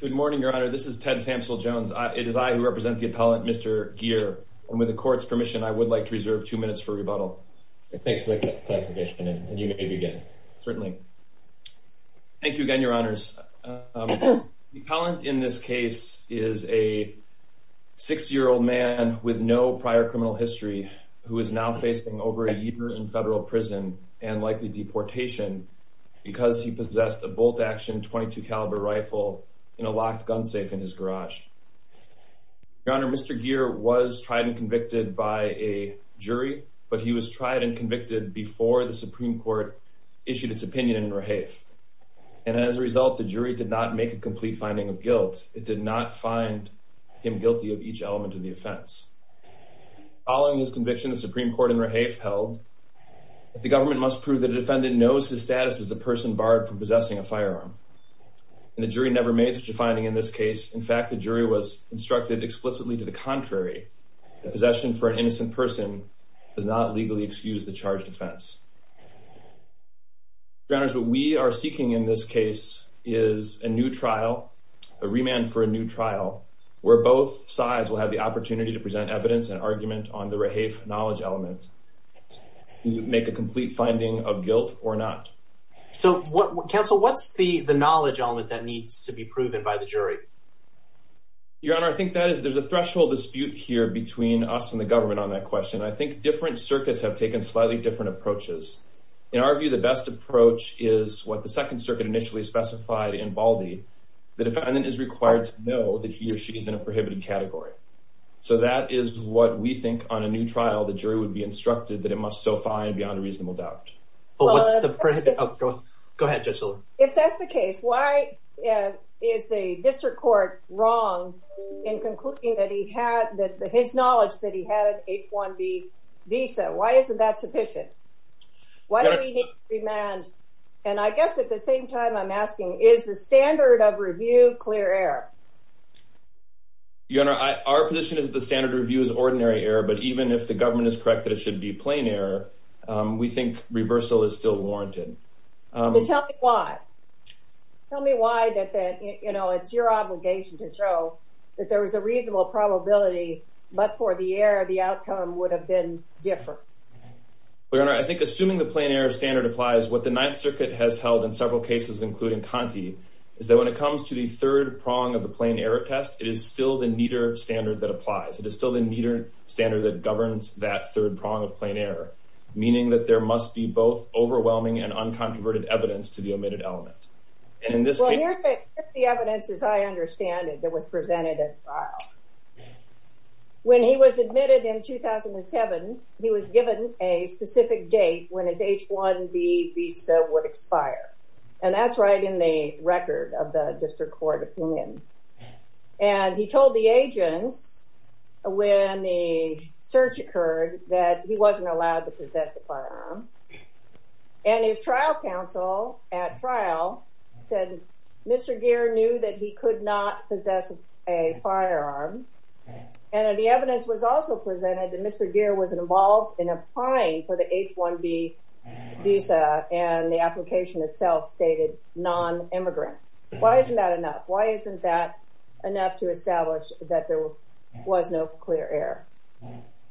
Good morning, Your Honor. This is Ted Samsel Jones. It is I who represent the appellant, Mr. Gear, and with the court's permission, I would like to reserve two minutes for rebuttal. Thanks for the clarification, and you may begin. Certainly. Thank you again, Your Honors. The appellant in this case is a 60-year-old man with no prior criminal history who is now facing over a year in federal prison and likely deportation because he possessed a bolt-action .22 caliber rifle in a locked gun safe in his garage. Your Honor, Mr. Gear was tried and convicted by a jury, but he was tried and convicted before the Supreme Court issued its opinion in Rehaef, and as a result, the jury did not make a complete finding of guilt. It did not find him guilty of each element of the offense. Following his conviction, the Supreme Court in Rehaef held that the government must prove that a defendant knows his status as a person barred from possession, and the jury never made such a finding in this case. In fact, the jury was instructed explicitly to the contrary. Possession for an innocent person does not legally excuse the charged offense. Your Honors, what we are seeking in this case is a new trial, a remand for a new trial, where both sides will have the opportunity to present evidence and argument on the Rehaef knowledge element to make a complete finding of guilt or not. So, Counsel, what's the knowledge element that needs to be proven by the jury? Your Honor, I think that is, there's a threshold dispute here between us and the government on that question. I think different circuits have taken slightly different approaches. In our view, the best approach is what the Second Circuit initially specified in Baldy. The defendant is required to know that he or she is in a prohibited category. So, that is what we think on a new trial the jury would be instructed that it must so find beyond a reasonable doubt. Oh, what's the prohibition? Go ahead, Judge Silver. If that's the and is the district court wrong in concluding that he had that his knowledge that he had an H-1B visa, why isn't that sufficient? Why do we need a remand? And I guess at the same time I'm asking, is the standard of review clear error? Your Honor, our position is the standard review is ordinary error. But even if the government is correct that it should be plain error, we think reversal is still warranted. Tell me why. Tell me why that, you know, it's your obligation to show that there was a reasonable probability, but for the error the outcome would have been different. Your Honor, I think assuming the plain error standard applies, what the Ninth Circuit has held in several cases including Conti, is that when it comes to the third prong of the plain error test, it is still the neater standard that applies. It is still the neater standard that governs that third prong of plain error, meaning that there must be both overwhelming and uncontroverted evidence to the omitted element. And in this case... Well, here's the evidence as I understand it that was presented at trial. When he was admitted in 2007, he was given a specific date when his H-1B visa would expire. And that's right in the record of the District Court opinion. And he told the search occurred that he wasn't allowed to possess a firearm. And his trial counsel at trial said Mr. Geer knew that he could not possess a firearm. And the evidence was also presented that Mr. Geer was involved in applying for the H-1B visa and the application itself stated non-immigrant. Why isn't that enough? Why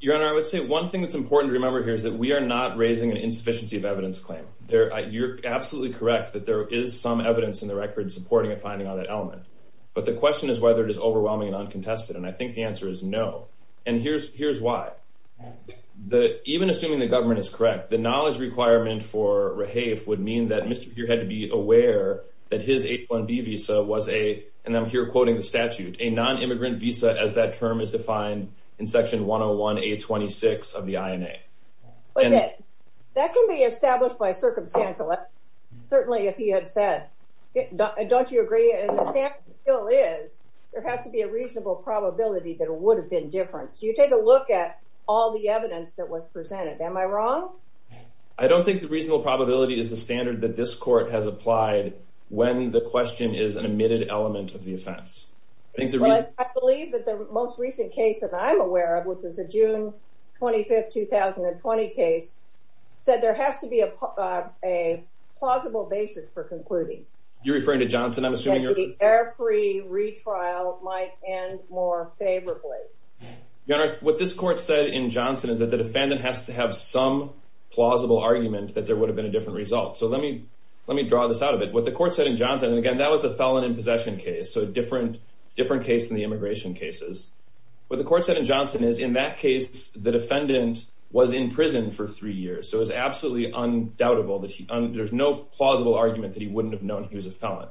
Your Honor, I would say one thing that's important to remember here is that we are not raising an insufficiency of evidence claim. You're absolutely correct that there is some evidence in the record supporting a finding on that element. But the question is whether it is overwhelming and uncontested. And I think the answer is no. And here's why. Even assuming the government is correct, the knowledge requirement for Rahafe would mean that Mr. Geer had to be aware that his H-1B visa was a, and I'm here quoting the statute, a non-immigrant visa as that term is defined in section 101 A-26 of the INA. But that can be established by circumstantial, certainly if he had said, don't you agree? And the statute still is. There has to be a reasonable probability that it would have been different. So you take a look at all the evidence that was presented. Am I wrong? I don't think the reasonable probability is the standard that this court has applied when the question is an omitted element of the offense. I believe that the most recent case that I'm aware of, which was a June 25th, 2020 case, said there has to be a plausible basis for concluding. You're referring to Johnson, I'm assuming? That the air free retrial might end more favorably. Your Honor, what this court said in Johnson is that the defendant has to have some plausible argument that there would have been a different result. So let me, let me draw this out of it. What the court said in Johnson, and again, that was a felon in possession case. So different, different case than the immigration cases. What the court said in Johnson is in that case, the defendant was in prison for three years. So it was absolutely undoubtable that there's no plausible argument that he wouldn't have known he was a felon.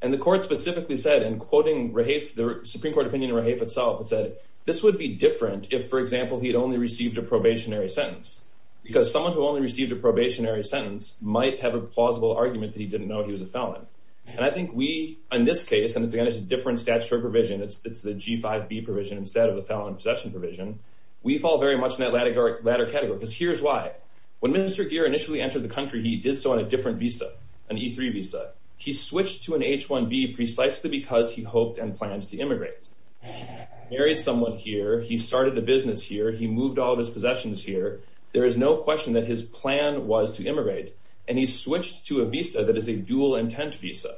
And the court specifically said, and quoting the Supreme Court opinion itself, it said, this would be different if, for example, he had only received a probationary sentence. Because someone who only received a probationary sentence might have a plausible argument that he didn't know he was a felon. And I think we, in this case, and it's again, it's a different statutory provision. It's the G-5B provision instead of the felon in possession provision. We fall very much in that latter category. Because here's why. When Minister Geer initially entered the country, he did so on a different visa, an E-3 visa. He switched to an H-1B precisely because he hoped and planned to immigrate. Married someone here. He started a business here. He moved all of his possessions here. There is no question that his plan was to immigrate. And he switched to a visa that is a dual intent visa.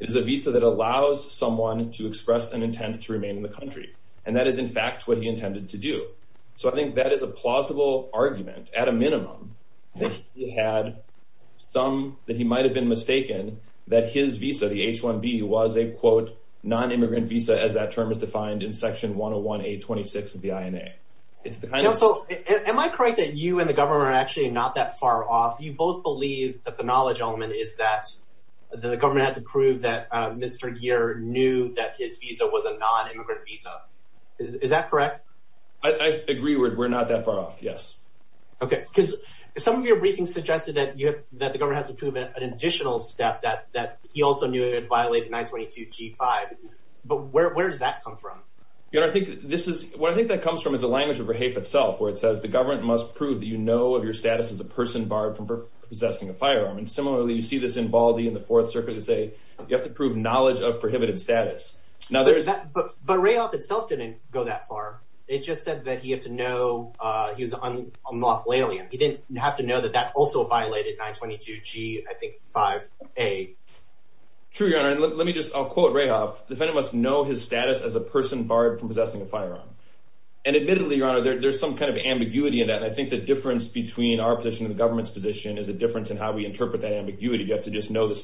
It is a visa to express an intent to remain in the country. And that is, in fact, what he intended to do. So I think that is a plausible argument, at a minimum, that he had some, that he might have been mistaken, that his visa, the H-1B, was a quote, non-immigrant visa, as that term is defined in Section 101A-26 of the INA. It's the kind of... So, am I correct that you and the government are actually not that far off? You both believe that the knowledge element is that the government had to prove that the person here knew that his visa was a non-immigrant visa. Is that correct? I agree we're not that far off, yes. Okay, because some of your briefings suggested that you have, that the government has to prove an additional step, that he also knew it violated 922 G-5. But where does that come from? You know, I think this is, what I think that comes from is the language of Rahaf itself, where it says, the government must prove that you know of your status as a person barred from possessing a firearm. And similarly, you see this in Baldy in the Fourth Circuit. They say, you have to prove knowledge of prohibited status. Now there's... But Rahaf itself didn't go that far. It just said that he had to know he was a moth-lalian. He didn't have to know that that also violated 922 G, I think, 5A. True, your honor. And let me just, I'll quote Rahaf. The defendant must know his status as a person barred from possessing a firearm. And admittedly, your honor, there's some kind of ambiguity in that. I think the difference between our position and the government's position is a difference in how we interpret that ambiguity. You have to just know the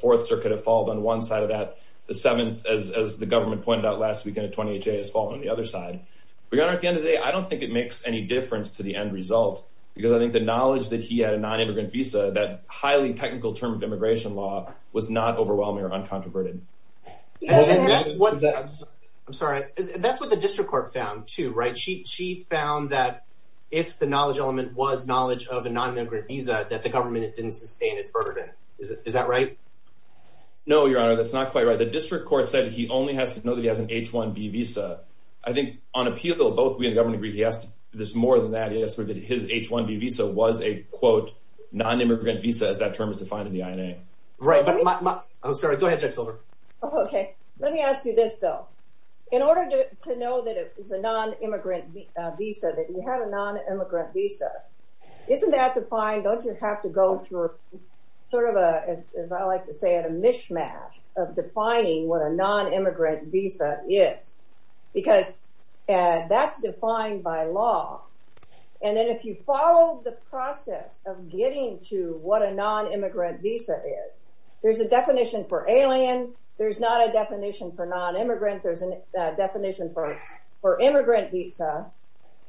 Fourth Circuit have fallen on one side of that. The Seventh, as the government pointed out last weekend at 28 J, has fallen on the other side. Your honor, at the end of the day, I don't think it makes any difference to the end result. Because I think the knowledge that he had a non-immigrant visa, that highly technical term of immigration law, was not overwhelming or uncontroverted. I'm sorry, that's what the District Court found too, right? She found that if the knowledge element was knowledge of a non-immigrant visa, that the government didn't sustain its right? No, your honor, that's not quite right. The District Court said he only has to know that he has an H-1B visa. I think on appeal, though, both we and the government agree he has to, there's more than that. He has to know that his H-1B visa was a quote non-immigrant visa, as that term is defined in the INA. Right, but I'm sorry, go ahead, Judge Silver. Okay, let me ask you this, though. In order to know that it is a non-immigrant visa, that you have a non-immigrant visa, isn't that defined, don't you have to go through sort of a, as I like to say, a mishmash of defining what a non-immigrant visa is? Because that's defined by law, and then if you follow the process of getting to what a non-immigrant visa is, there's a definition for alien, there's not a definition for non-immigrant, there's a definition for immigrant visa,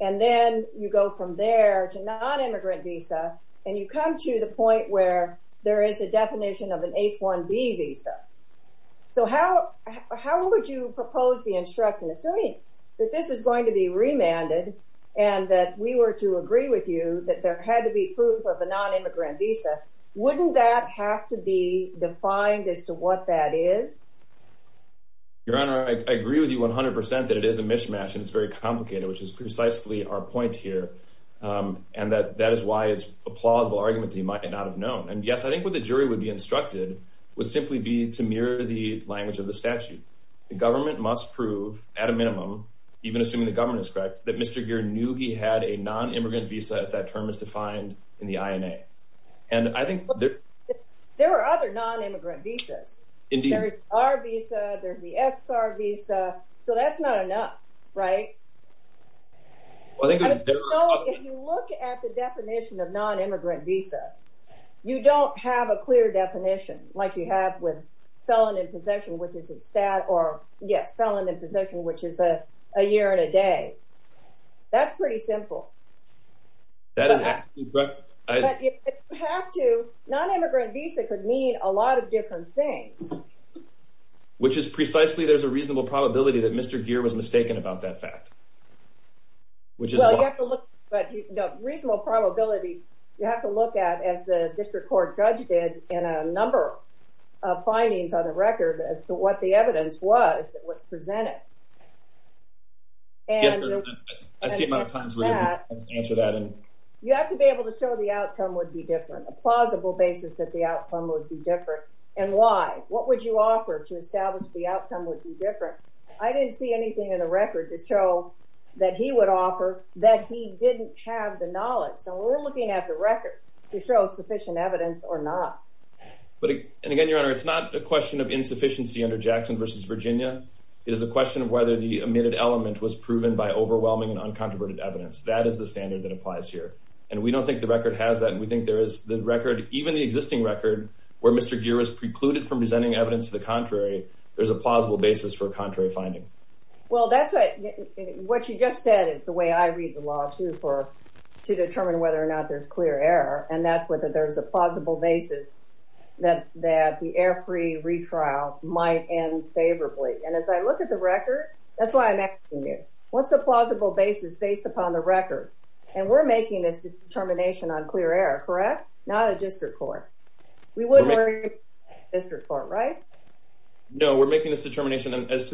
and then you go from there to non-immigrant visa, and you come to the point where there is a definition of an H-1B visa. So how would you propose the instruction, assuming that this is going to be remanded, and that we were to agree with you that there had to be proof of a non-immigrant visa, wouldn't that have to be defined as to what that is? Your Honor, I agree with you 100% that it is a mishmash, and it's very complicated, which is precisely our point here, and that that is why it's a plausible argument that you might not have known. And yes, I think what the jury would be instructed would simply be to mirror the language of the statute. The government must prove, at a minimum, even assuming the government is correct, that Mr. Geer knew he had a non-immigrant visa as that term is defined in the INA. And I think there... There are other non-immigrant visas. Indeed. There's our visa, there's the SR visa, so that's not enough, right? If you look at the definition of non-immigrant visa, you don't have a clear definition like you have with felon in possession, which is a stat, or yes, felon in possession, which is a year and a day. That's pretty simple. That is absolutely correct. If you have to, non-immigrant visa could mean a lot of different things. Which is precisely there's a reasonable probability that Mr. Geer was mistaken about that fact. Which is... Well, you have to look, but you know, reasonable probability, you have to look at, as the district court judge did, in a number of findings on the record as to what the evidence was that was presented. Yes, but I see a lot of times where you answer that and... You have to be able to show the outcome would be different. A plausible basis that the outcome would be different. And why? What would you offer to establish the outcome would be different? I didn't see anything in the record to show that he would offer that he didn't have the knowledge. So we're looking at the record to show sufficient evidence or not. But again, Your Honor, it's not a question of insufficiency under Jackson versus Virginia. It is a question of whether the omitted element was proven by overwhelming and uncontroverted evidence. That is the standard that applies here. And we don't think the record has that, and we think there is the record, even the existing record, where Mr. Geer was precluded from presenting evidence to the contrary, there's a plausible basis for a contrary finding. Well, that's what you just said. It's the way I read the law, too, to determine whether or not there's clear error. And that's whether there's a plausible basis that the error-free retrial might end favorably. And as I look at the record, that's why I'm asking you, what's the plausible basis based upon the record? And we're making this determination as to the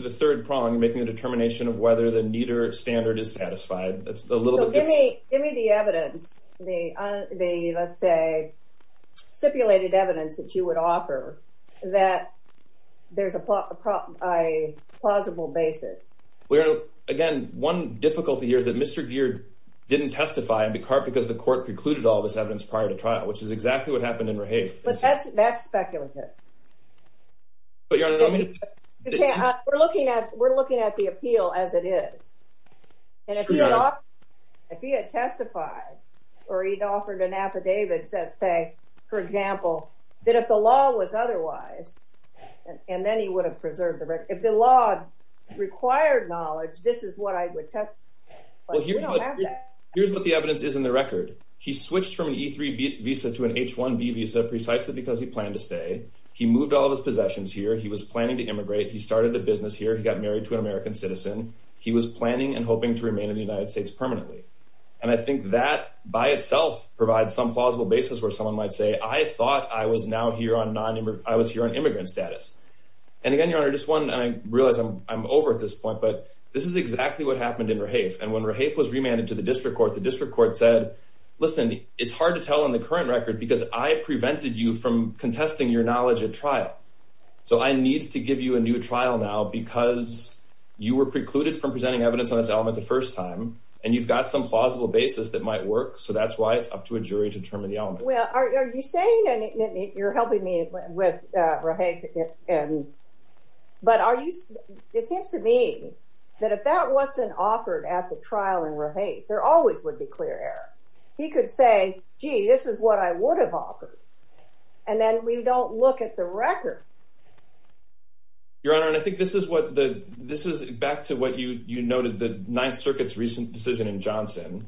third prong, making the determination of whether the Nieder standard is satisfied. Give me the evidence, the, let's say, stipulated evidence that you would offer that there's a plausible basis. Well, again, one difficulty here is that Mr. Geer didn't testify because the court precluded all this evidence prior to trial, which is exactly what you're saying. But that's speculative. But Your Honor, I mean... We're looking at the appeal as it is. And if he had testified or he'd offered an affidavit that say, for example, that if the law was otherwise, and then he would have preserved the record. If the law required knowledge, this is what I would testify. Well, here's what the evidence is in the record. He switched from an E-3 visa to an H-1B visa precisely because he planned to stay. He moved all of his possessions here. He was planning to immigrate. He started a business here. He got married to an American citizen. He was planning and hoping to remain in the United States permanently. And I think that by itself provides some plausible basis where someone might say, I thought I was now here on non-immigrant, I was here on immigrant status. And again, Your Honor, just one, and I realize I'm over at this point, but this is exactly what happened in Rahaf. And when Rahaf was remanded to the district court, the district court said, listen, it's hard to tell in the current record because I prevented you from contesting your knowledge at trial. So I need to give you a new trial now because you were precluded from presenting evidence on this element the first time, and you've got some plausible basis that might work. So that's why it's up to a jury to determine the element. Well, are you saying, and you're helping me with Rahaf, but are you, it seems to me that if that wasn't offered at the trial in Rahaf, there always would be a clear error. He could say, gee, this is what I would have offered. And then we don't look at the record. Your Honor, and I think this is what the, this is back to what you noted, the Ninth Circuit's recent decision in Johnson.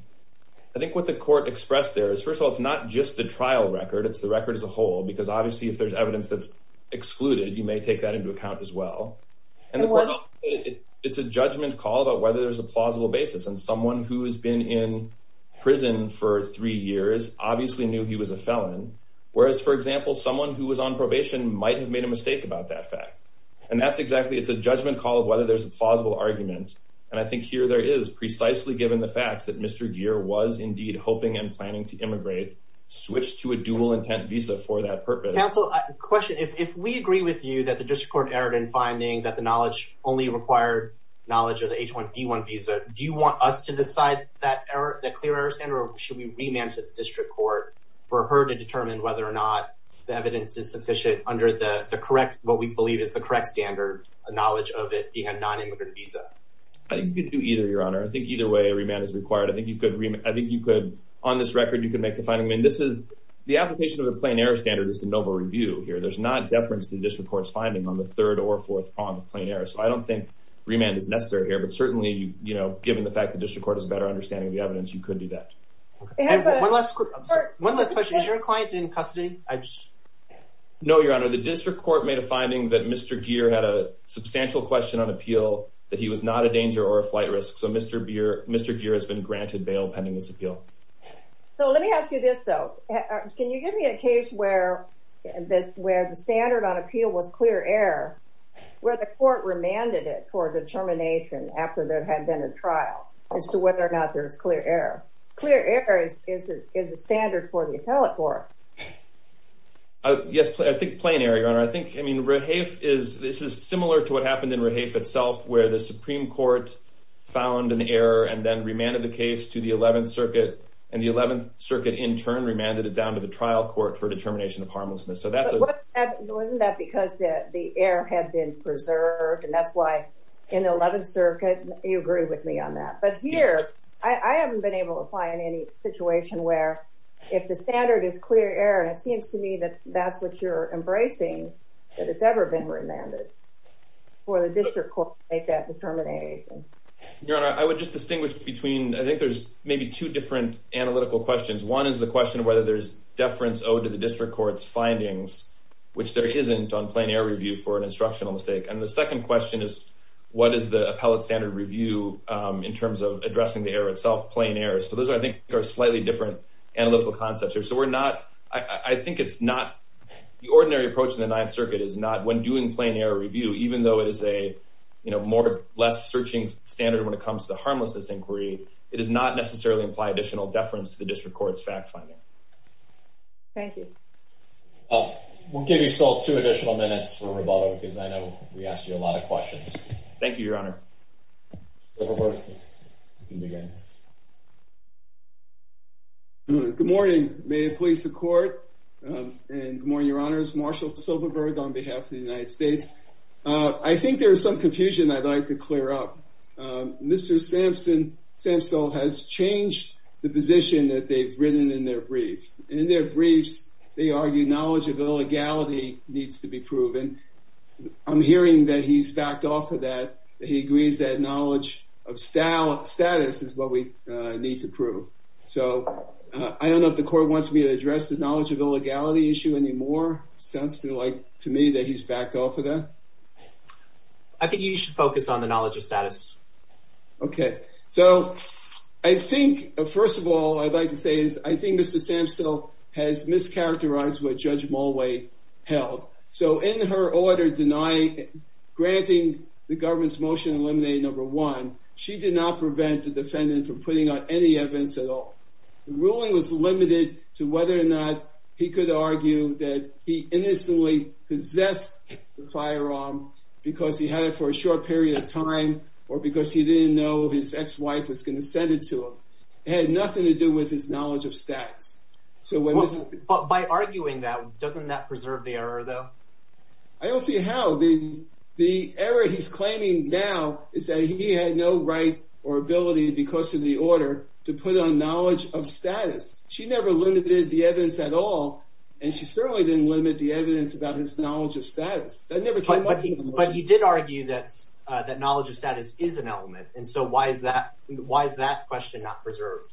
I think what the court expressed there is, first of all, it's not just the trial record, it's the record as a whole, because obviously if there's evidence that's excluded, you may take that into account as well. And it's a judgment call about whether there's a person for three years obviously knew he was a felon, whereas, for example, someone who was on probation might have made a mistake about that fact. And that's exactly, it's a judgment call of whether there's a plausible argument. And I think here there is, precisely given the facts that Mr. Geer was indeed hoping and planning to immigrate, switch to a dual intent visa for that purpose. Counsel, question. If we agree with you that the District Court erred in finding that the knowledge only required knowledge of the H1B1 visa, do you want us to decide that clear error standard, or should we remand to the District Court for her to determine whether or not the evidence is sufficient under the correct, what we believe is the correct standard, a knowledge of it being a non-immigrant visa? I think you could do either, Your Honor. I think either way, a remand is required. I think you could, on this record, you could make the finding. I mean, this is, the application of the plain error standard is to novel review here. There's not deference to the District Court's finding on the third or fourth prong of plain error. So I don't think remand is necessary here. Certainly, you know, given the fact that the District Court is better understanding of the evidence, you could do that. One last question, is your client in custody? No, Your Honor, the District Court made a finding that Mr. Geer had a substantial question on appeal, that he was not a danger or a flight risk. So Mr. Geer has been granted bail pending this appeal. So let me ask you this, though. Can you give me a case where the standard on determination, after there had been a trial, as to whether or not there's clear error? Clear error is a standard for the appellate court. Yes, I think plain error, Your Honor. I think, I mean, Rahafe is, this is similar to what happened in Rahafe itself, where the Supreme Court found an error and then remanded the case to the 11th Circuit, and the 11th Circuit in turn remanded it down to the trial court for determination of harmlessness. So that's a... Well, isn't that because the error had been preserved, and that's why in the 11th Circuit, you agree with me on that. But here, I haven't been able to apply in any situation where, if the standard is clear error, and it seems to me that that's what you're embracing, that it's ever been remanded for the District Court to make that determination. Your Honor, I would just distinguish between, I think there's maybe two different analytical questions. One is the question of whether there's additional deference to the District Court's findings, which there isn't on plain error review for an instructional mistake. And the second question is, what is the appellate standard review in terms of addressing the error itself, plain error? So those, I think, are slightly different analytical concepts here. So we're not... I think it's not... The ordinary approach in the 9th Circuit is not, when doing plain error review, even though it is a less searching standard when it comes to the harmlessness inquiry, it does not necessarily imply additional deference to the District Court's fact finding. Thank you. We'll give you still two additional minutes for rebuttal because I know we asked you a lot of questions. Thank you, Your Honor. Silverberg, you can begin. Good morning. May it please the Court, and good morning, Your Honors. Marshall Silverberg on behalf of the United States. I think there is some confusion I'd like to clear up. Mr. Sampson, Sampson has changed the position that they've written in their briefs. In their briefs, they argue knowledge of illegality needs to be proven. I'm hearing that he's backed off of that, that he agrees that knowledge of status is what we need to prove. So I don't know if the Court wants me to address the knowledge of illegality issue anymore. It sounds to me that he's backed off of that. I think you should focus on the knowledge of status. Okay. So I think, first of all, I'd like to say is, I think Mr. Sampson has mischaracterized what Judge Mulway held. So in her order denying, granting the government's motion to eliminate number one, she did not prevent the defendant from putting on any evidence at all. The ruling was limited to whether or not he could argue that he innocently possessed the firearm because he had it for a period of time, or because he didn't know his ex-wife was going to send it to him. It had nothing to do with his knowledge of status. By arguing that, doesn't that preserve the error though? I don't see how. The error he's claiming now is that he had no right or ability because of the order to put on knowledge of status. She never limited the evidence at all, and she certainly didn't limit the evidence about his that knowledge of status is an element. And so why is that question not preserved?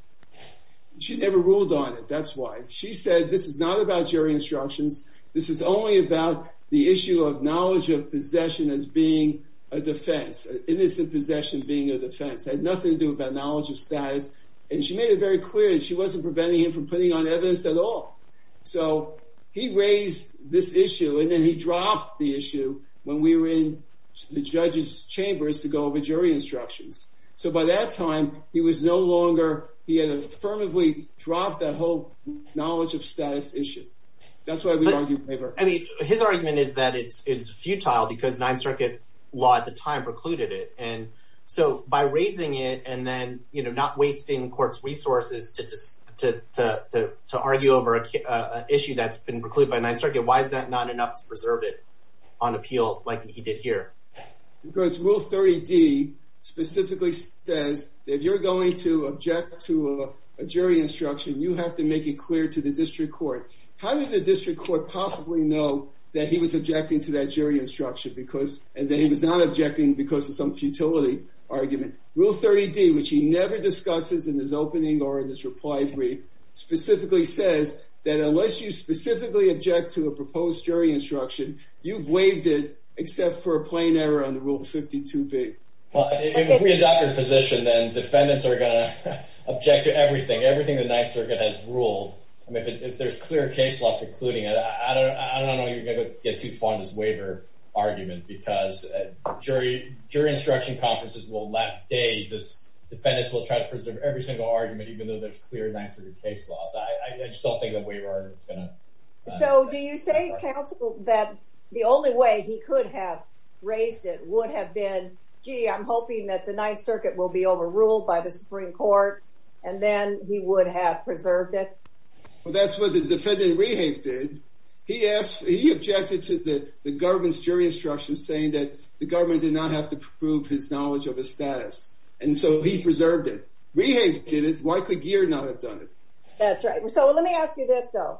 She never ruled on it, that's why. She said, this is not about jury instructions. This is only about the issue of knowledge of possession as being a defense, innocent possession being a defense. It had nothing to do about knowledge of status. And she made it very clear that she wasn't preventing him from putting on evidence at all. So he raised this issue, and then he dropped the issue when we were in the judge's chambers to go over jury instructions. So by that time, he was no longer... He had affirmatively dropped that whole knowledge of status issue. That's why we argued favor. I mean, his argument is that it's futile because Ninth Circuit law at the time precluded it. And so by raising it and then not wasting court's resources to argue over an issue that's been precluded by Ninth Circuit, why is that not enough to preserve it on appeal like he did here? Because Rule 30D specifically says that if you're going to object to a jury instruction, you have to make it clear to the district court. How did the district court possibly know that he was objecting to that jury instruction because... And that he was not objecting because of some futility argument. Rule 30D, which he never discusses in his opening or in his reply brief, specifically says that unless you specifically object to a proposed jury instruction, you've waived it except for a plain error on the Rule 52B. Well, if we adopt your position, then defendants are gonna object to everything, everything the Ninth Circuit has ruled. If there's clear case law precluding it, I don't know you're gonna get too far on this waiver argument because jury instruction conferences will last days as defendants will try to preserve every single argument, even though there's clear Ninth Circuit case laws. I just don't think the waiver argument's gonna... So do you say, counsel, that the only way he could have raised it would have been, gee, I'm hoping that the Ninth Circuit will be overruled by the Supreme Court, and then he would have preserved it? Well, that's what the defendant, Rehave, did. He objected to the government's jury instruction saying that the government did not have to prove his knowledge of his status, and so he preserved it. Rehave did it. Why could Geer not have done it? That's right. So let me ask you this, though,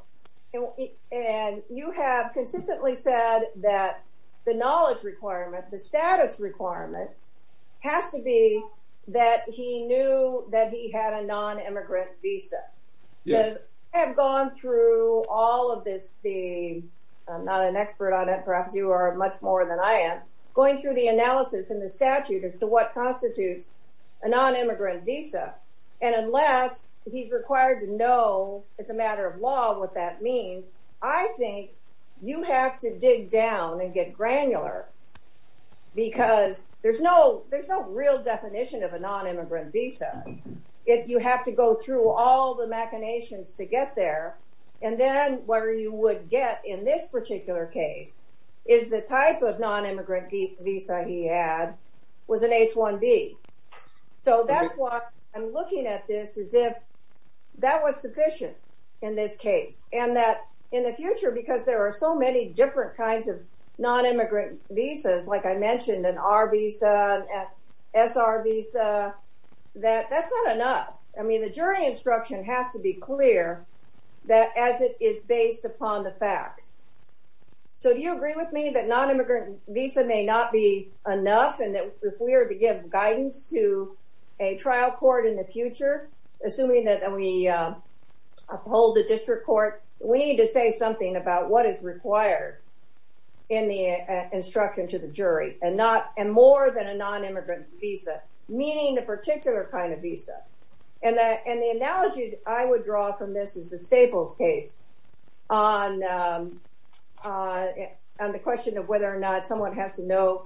and you have consistently said that the knowledge requirement, the status requirement, has to be that he knew that he had a non immigrant visa. Yes. I have gone through all of this, the... I'm not an expert on it, perhaps you are much more than I am, going through the analysis and the statute as to what constitutes a non immigrant visa. And as a matter of law, what that means, I think you have to dig down and get granular because there's no real definition of a non immigrant visa. You have to go through all the machinations to get there, and then what you would get in this particular case is the type of non immigrant visa he had was an H1B. So that's why I'm looking at this as if that was sufficient in this case, and that in the future, because there are so many different kinds of non immigrant visas, like I mentioned, an R visa, an SR visa, that that's not enough. I mean, the jury instruction has to be clear that as it is based upon the facts. So do you agree with me that non immigrant visa may not be enough, and that if we are to give guidance to a trial court in the future, assuming that we uphold the district court, we need to say something about what is required in the instruction to the jury, and not and more than a non immigrant visa, meaning the particular kind of visa. And that and the analogy I would draw from this is the Staples case on on the question of whether or not someone has to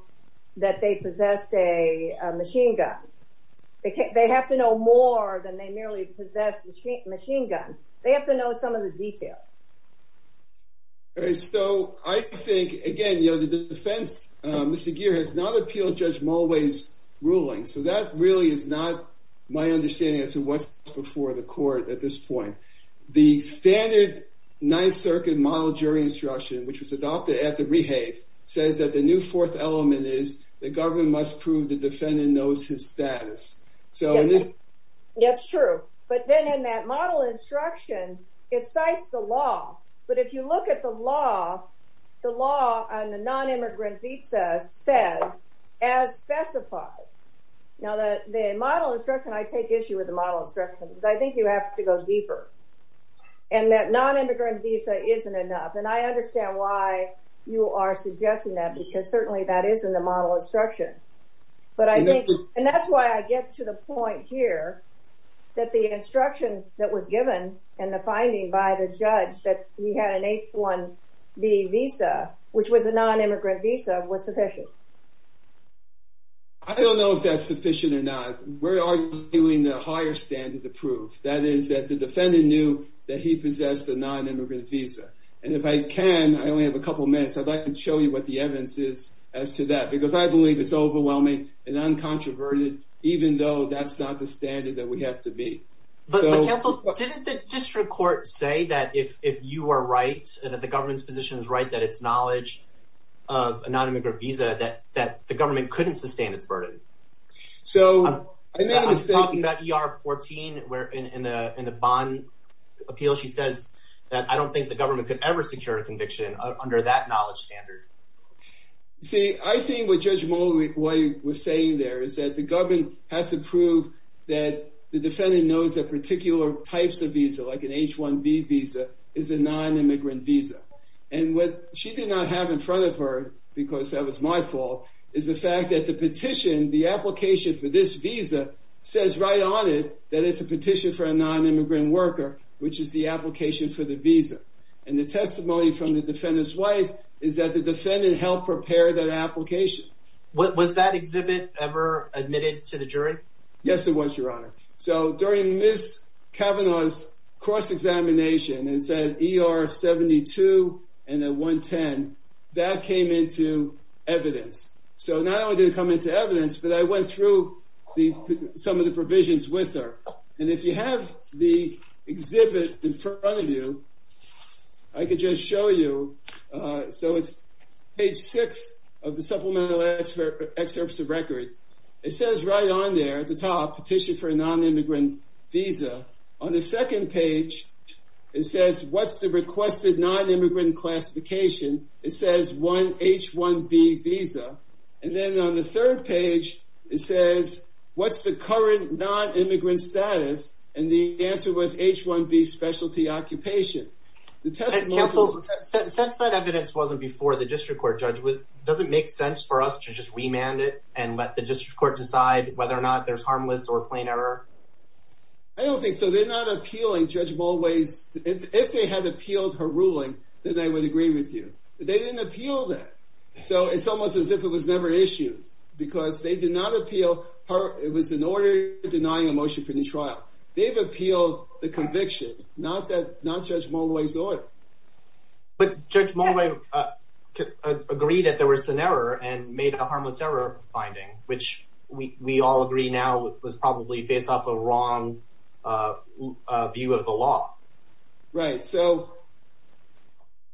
that they possessed a machine gun, they have to know more than they merely possess the machine gun, they have to know some of the detail. So I think again, you know, the defense, Mr. Geer has not appealed Judge Mulway's ruling. So that really is not my understanding as to what's before the court at this point, the standard Ninth Circuit model jury instruction, which was adopted at the Rehave, says that the new fourth element is the government must prove the defendant knows his status. So it is. That's true. But then in that model instruction, it cites the law. But if you look at the law, the law on the non immigrant visa says, as specified. Now that the model instruction, I take issue with the model instruction, because I think you have to go deeper. And that non immigrant visa isn't enough. And I understand why you are suggesting that, because certainly that is in the model instruction. But I think and that's why I get to the point here that the instruction that was given and the finding by the judge that we had an H one B visa, which was a non immigrant visa, was sufficient. I don't know if that's sufficient or not. We're arguing the higher standard approved. That is that the defendant knew that he possessed a non immigrant visa. And if I can, I only have a couple minutes. I'd like to show you what the evidence is as to that, because I believe it's overwhelming and uncontroverted, even though that's not the standard that we have to be. But counsel, didn't the district court say that if you are right, that the government's position is right, that it's knowledge of a non immigrant visa that that the government couldn't sustain its burden. So I'm talking about PR 14, where in the bond appeal, she says that I don't think the government could ever secure conviction under that knowledge standard. See, I think what Judge Moway was saying there is that the government has to prove that the defendant knows that particular types of visa like an H one B visa is a non immigrant visa. And what she did not have in front of her, because that was my fault, is the fact that the petition, the application for this visa says right on it that it's a petition for a non immigrant worker, which is the application for the visa. And the testimony from the defendant's wife is that the defendant helped prepare that application. What was that exhibit ever admitted to the jury? Yes, it was, Your Honor. So during Ms Kavanaugh's cross examination and said ER 72 and a 1 10 that came into evidence. So not only did it come into evidence, but I went through the some of the provisions with her. And if you have the exhibit in front of you, I could just show you. So it's page six of the supplemental expert excerpts of record. It says right on there at the top petition for a non immigrant visa. On the second page, it says what's the requested non immigrant classification? It says one H one B visa. And then on the third page, it says, What's the current non immigrant status? And the answer was H one B specialty occupation. The top councils, since that evidence wasn't before the district court judge with doesn't make sense for us to just remand it and let the district court decide whether or not there's harmless or plain error. I don't think so. They're not appealing. Judge always if they had appealed her ruling that I would agree with you. They didn't appeal that. So it's almost as if it was never issued because they did not appeal her. It was an order denying a motion for the trial. They've appealed the conviction. Not that not judge always order. But Judge Malloy, uh, agree that there was an error and made a harmless error finding, which we all agree now was probably based off a wrong, uh, view of the law, right? So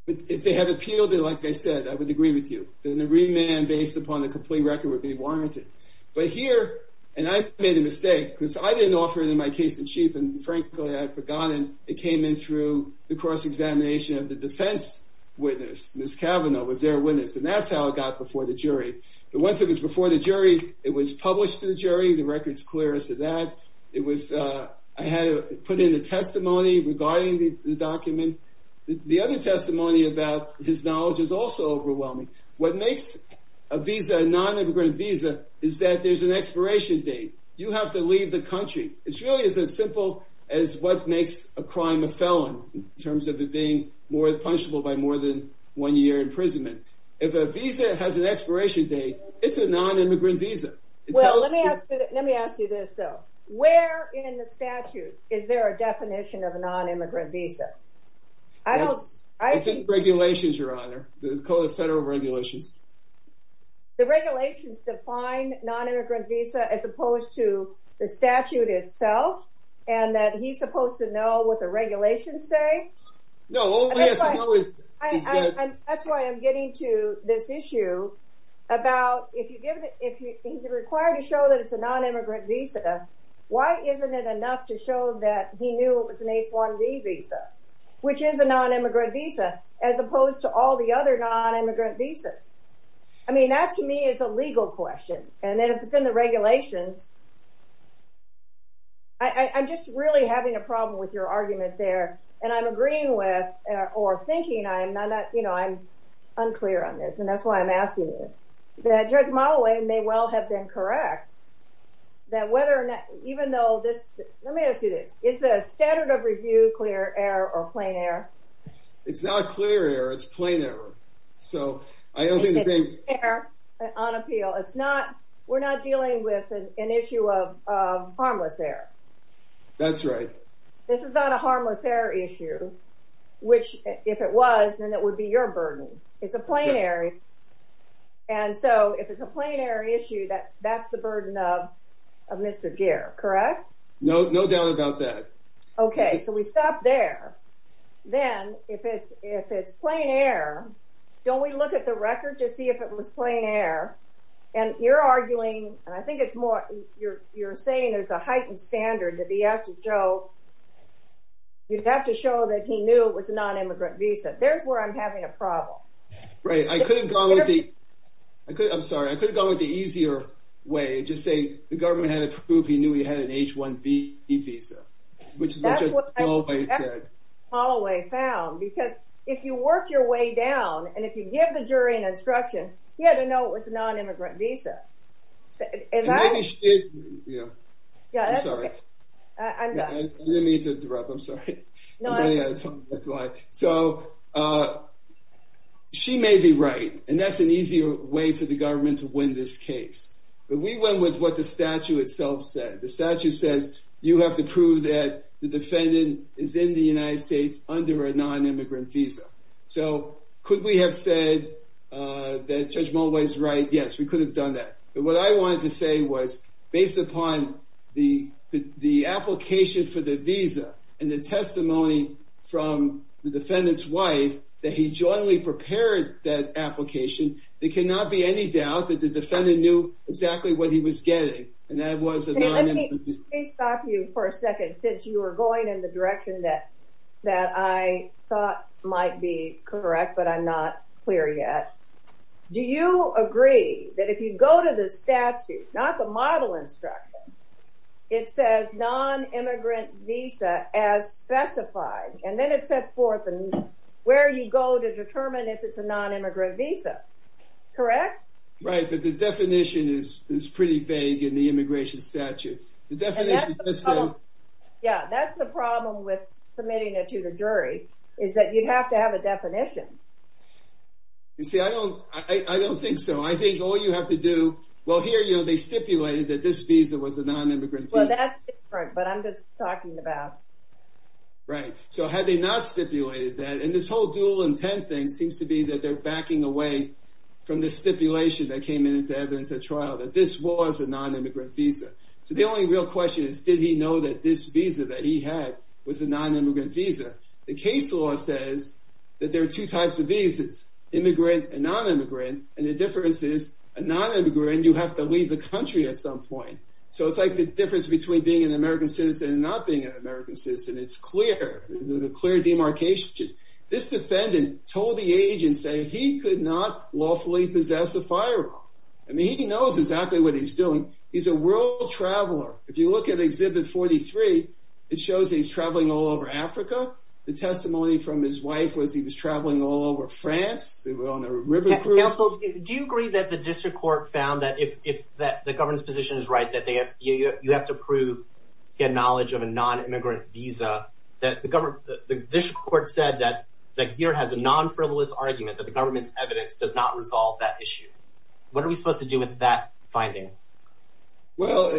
if they have appealed it, like I said, I would agree with you. Then the remand based upon the complete record would be warranted. But here and I made a mistake because I didn't offer it in my case in chief. And frankly, I've forgotten it came in through the cross examination of the defense witness. Miss Cavanaugh was their witness, and that's how it got before the jury. But once it was before the jury, it was published to the jury. The record's clear as to that it was. I had put in a testimony regarding the document. The other testimony about his knowledge is also overwhelming. What makes a visa nonimmigrant visa is that there's an expiration date. You have to leave the country. It's really is a simple as what makes a crime a felon in terms of it being more punishable by more than one year imprisonment. If a visa has an immigrant visa. Well, let me ask you this, though. Where in the statute is there a definition of a nonimmigrant visa? I don't. I think regulations. Your honor, the code of federal regulations, the regulations define nonimmigrant visa as opposed to the statute itself and that he's supposed to know what the regulations say. No, that's why I'm getting to this issue about if you give it if he's required to show that it's a nonimmigrant visa. Why isn't it enough to show that he knew it was an H one D visa, which is a nonimmigrant visa as opposed to all the other nonimmigrant visas? I mean, that to me is a legal question. And then if it's in the regulations, I'm just really having a problem with your argument there, and I'm agreeing with or thinking I'm not. You know, I'm unclear on this, and that's why I'm asking you that Judge Malloway may well have been correct that whether even though this let me ask you this. Is the standard of review clear error or plain air? It's not clear. It's plain error. So I don't think they're on appeal. It's not. We're not dealing with an issue of harmless air. That's right. This is not harmless air issue, which, if it was, then it would be your burden. It's a plain air. And so if it's a plain air issue that that's the burden of Mr. Gear, correct? No, no doubt about that. Okay, so we stop there. Then if it's if it's plain air, don't we look at the record to see if it was plain air and you're arguing, and I think it's more you're saying there's a heightened standard that he has to show. You have to show that he knew it was a nonimmigrant visa. There's where I'm having a problem, right? I could have gone with the I could. I'm sorry. I could have gone with the easier way. Just say the government had approved. He knew he had an H one B visa, which is what Holloway found. Because if you work your way down and if you give the jury an instruction, you had to know it was a nonimmigrant visa. Yeah, I'm sorry. I didn't mean to interrupt. I'm sorry. So, uh, she may be right, and that's an easier way for the government to win this case. But we went with what the statue itself said. The statue says you have to prove that the defendant is in the United States under a nonimmigrant visa. So could we have said that Judge Muller is right? Yes, we could have done that. But what I wanted to say was based upon the application for the visa and the testimony from the defendant's wife that he jointly prepared that application, there cannot be any doubt that the defendant knew exactly what he was getting. And that was a nonimmigrant. Please stop you for a second since you were going in the direction that that I thought might be correct. But I'm not clear yet. Do you agree that if you go to the statute, not the model instruction, it says nonimmigrant visa as specified, and then it sets forth and where you go to determine if it's a nonimmigrant visa. Correct? Right. But the definition is is pretty vague in the immigration statute. The definition Yeah, that's the problem with submitting it to the jury is that you have to have a definition. You see, I don't I don't think so. I think all you have to do well here, you know, they stipulated that this visa was a nonimmigrant. Well, that's right. But I'm just talking about right. So had they not stipulated that in this whole dual intent thing seems to be that they're backing away from the stipulation that came into evidence at trial that this was a nonimmigrant visa. So the only real question is, did he know that this visa that he had was a nonimmigrant visa? The case law says that there are two types of visas, immigrant and nonimmigrant. And the difference is a nonimmigrant, you have to leave the country at some point. So it's like the difference between being an American citizen and not being an American citizen. It's clear, there's a clear demarcation. This defendant told the agents that he could not lawfully possess a firearm. I mean, he knows exactly what he's doing. He's a world traveler. If you look at Exhibit 43, it shows he's traveling all over Africa. The testimony from his wife was he was traveling all over France. They were on the river. Do you agree that the district court found that if that the government's position is right, that they have to prove get knowledge of a nonimmigrant visa, that the government, the district court said that that gear has a non-frivolous argument that the government's evidence does not resolve that issue. What are we supposed to do with that finding? Well,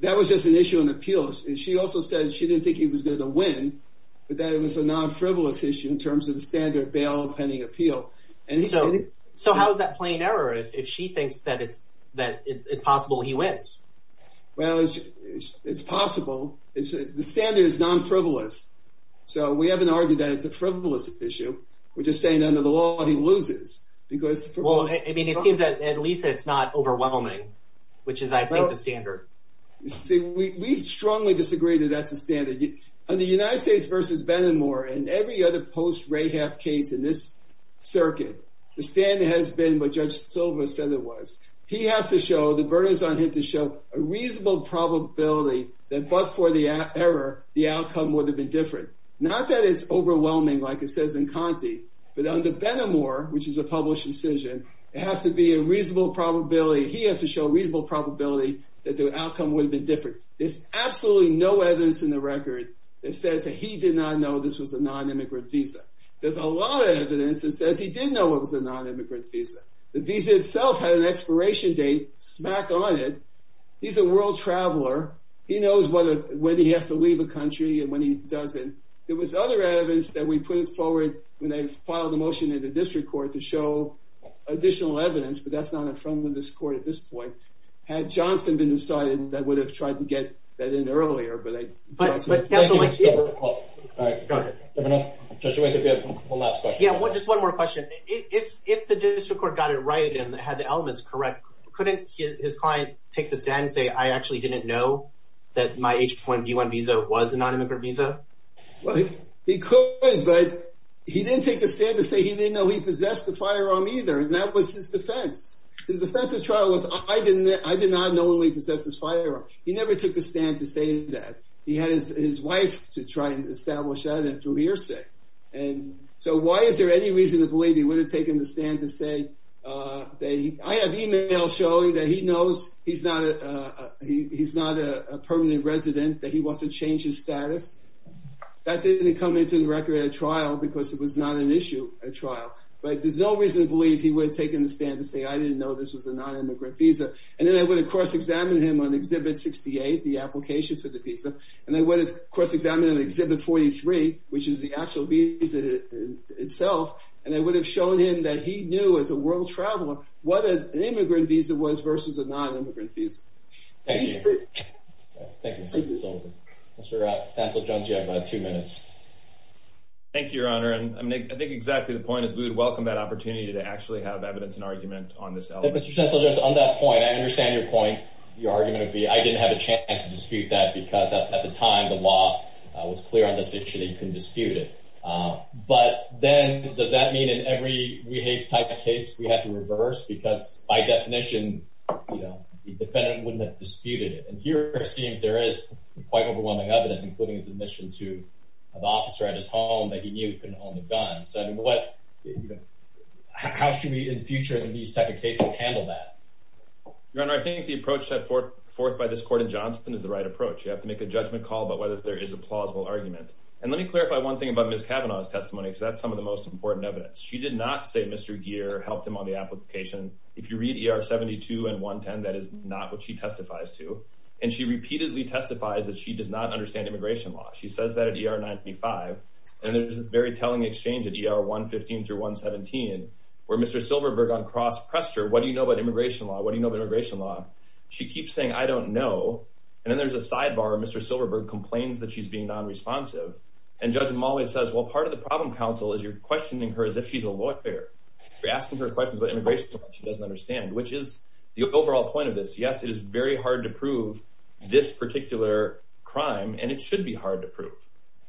that was just an issue in appeals. She also said she didn't think he was going to win, but that it was a non-frivolous issue in terms of the standard bail pending appeal. And so how is that plain error if she thinks that it's that it's possible he wins? Well, it's possible. It's the standard is non-frivolous. So we haven't argued that it's a frivolous issue. We're just saying under the law, he loses because well, I mean, it seems that at least it's not overwhelming, which is, I think, the standard. You see, we strongly disagree that that's a standard on the United States versus Ben and more and every other post ray have case in this circuit. The standard has been what Judge Silva said it was. He has to show the burdens on him to show a reasonable probability that but for the error, the outcome would have been different. Not that it's overwhelming, like it says in But under Ben and more, which is a published decision, it has to be a reasonable probability. He has to show reasonable probability that the outcome would have been different. There's absolutely no evidence in the record that says that he did not know this was a non-immigrant visa. There's a lot of evidence that says he did know it was a non-immigrant visa. The visa itself had an expiration date smack on it. He's a world traveler. He knows whether when he has to leave a country and when he doesn't, there was other evidence that we put forward when they filed a motion in the district court to show additional evidence. But that's not in front of this court at this point. Had Johnson been decided that would have tried to get that in earlier, but I All right, go ahead. Just wait. If you have one last question. Yeah, just one more question. If the district court got it right and had the elements correct, couldn't his client take the stand and say, I actually didn't know that my H-1B1 visa was a non-immigrant visa? Well, he could, but he didn't take the stand to say he didn't know he possessed the firearm either. And that was his defense. His defense of the trial was, I did not know he possessed his firearm. He never took the stand to say that. He had his wife to try and establish that through hearsay. And so why is there any reason to believe he would have taken the stand to say that? I have email showing that he knows he's not a permanent resident, that he wants to change his status. That didn't come into the record at a trial because it was not an issue at trial. But there's no reason to believe he would have taken the stand to say, I didn't know this was a non-immigrant visa. And then I would have cross-examined him on Exhibit 68, the application for the visa. And I would have cross-examined him on Exhibit 43, which is the actual visa itself. And it would have shown him that he knew, as a world traveler, what an immigrant visa was versus a non-immigrant visa. Thank you. Mr. Stansel-Jones, you have two minutes. Thank you, Your Honor. And I think exactly the point is we would welcome that opportunity to actually have evidence and argument on this element. Mr. Stansel-Jones, on that point, I understand your point, your argument would be, I didn't have a chance to dispute that because at the time, the defendant would have disputed it. But then, does that mean in every re-hage type of case, we have to reverse? Because by definition, the defendant wouldn't have disputed it. And here, it seems there is quite overwhelming evidence, including his admission to the officer at his home that he knew he couldn't own the gun. So how should we, in the future, in these type of cases, handle that? Your Honor, I think the approach set forth by this court in Johnson is the right approach. You have to make a judgment call about whether there is a misdemeanor or not. I'm going to take Ms. Kavanaugh's testimony because that's some of the most important evidence. She did not say Mr. Geer helped him on the application. If you read ER 72 and 110, that is not what she testifies to. And she repeatedly testifies that she does not understand immigration law. She says that at ER 95. And there's this very telling exchange at ER 115 through 117, where Mr. Silverberg on cross-pressure, what do you know about immigration law? What do you know about immigration law? She keeps saying, I don't know. And then there's a sidebar, Mr. Silverberg complains that she's being non-responsive. And Judge Mulway says, well, part of the problem, counsel, is you're questioning her as if she's a lawyer. You're asking her questions about immigration law that she doesn't understand, which is the overall point of this. Yes, it is very hard to prove this particular crime, and it should be hard to prove.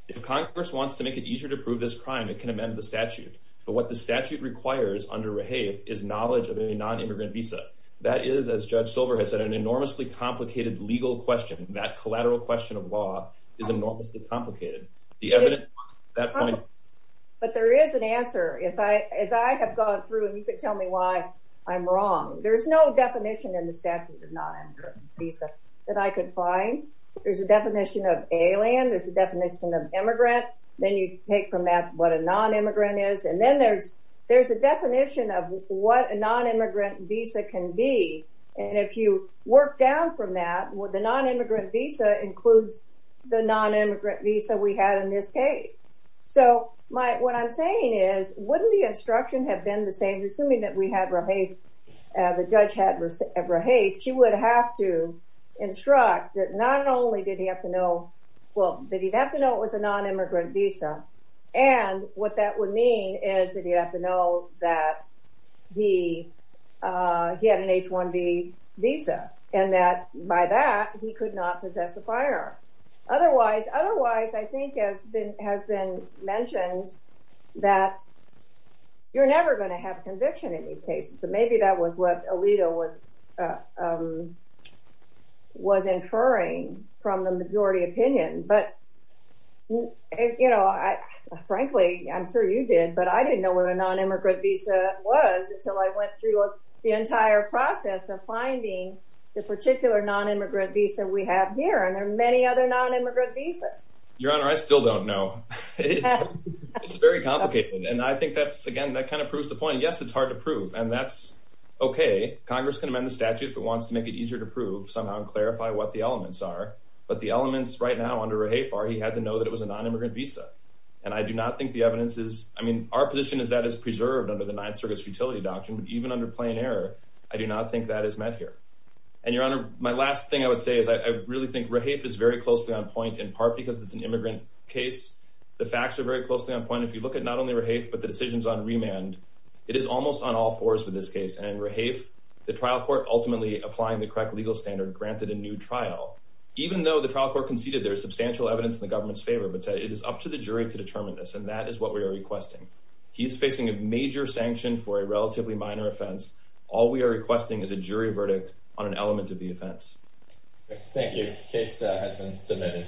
If Congress wants to make it easier to prove this crime, it can amend the statute. But what the statute requires under Rehave is knowledge of any non-immigrant visa. That is, as Judge Silverberg has said, an enormously complicated legal question. That is an enormously complicated. The evidence at that point... But there is an answer. As I have gone through, and you could tell me why I'm wrong, there's no definition in the statute of non-immigrant visa that I could find. There's a definition of alien, there's a definition of immigrant, then you take from that what a non-immigrant is, and then there's a definition of what a non-immigrant visa can be. And if you work down from that, the non-immigrant visa includes the non-immigrant visa we had in this case. So what I'm saying is, wouldn't the instruction have been the same? Assuming that we had Rehave, the judge had Rehave, she would have to instruct that not only did he have to know... Well, that he'd have to know it was a non-immigrant visa, and what that would mean is that he'd have to know that he had an H1B visa, and that by that, he could not possess a firearm. Otherwise, I think it has been mentioned that you're never gonna have conviction in these cases. So maybe that was what Alito was inferring from the majority opinion. But frankly, I'm sure you did, but I didn't know what a non-immigrant visa was until I went through the entire process of finding the particular non-immigrant visa we have here, and there are many other non-immigrant visas. Your Honor, I still don't know. It's very complicated. And I think that's, again, that kind of proves the point. Yes, it's hard to prove, and that's okay. Congress can amend the statute if it wants to make it easier to prove somehow and clarify what the elements are, but the elements right And I do not think the evidence is... I mean, our position is that it's preserved under the Ninth Circuit's Futility Doctrine, but even under plain error, I do not think that is met here. And Your Honor, my last thing I would say is I really think Rahaf is very closely on point, in part because it's an immigrant case. The facts are very closely on point. If you look at not only Rahaf, but the decisions on remand, it is almost on all fours for this case, and Rahaf, the trial court ultimately applying the correct legal standard, granted a new trial. Even though the trial court conceded there is jury to determine this, and that is what we are requesting. He is facing a major sanction for a relatively minor offense. All we are requesting is a jury verdict on an element of the offense. Thank you. Case has been submitted.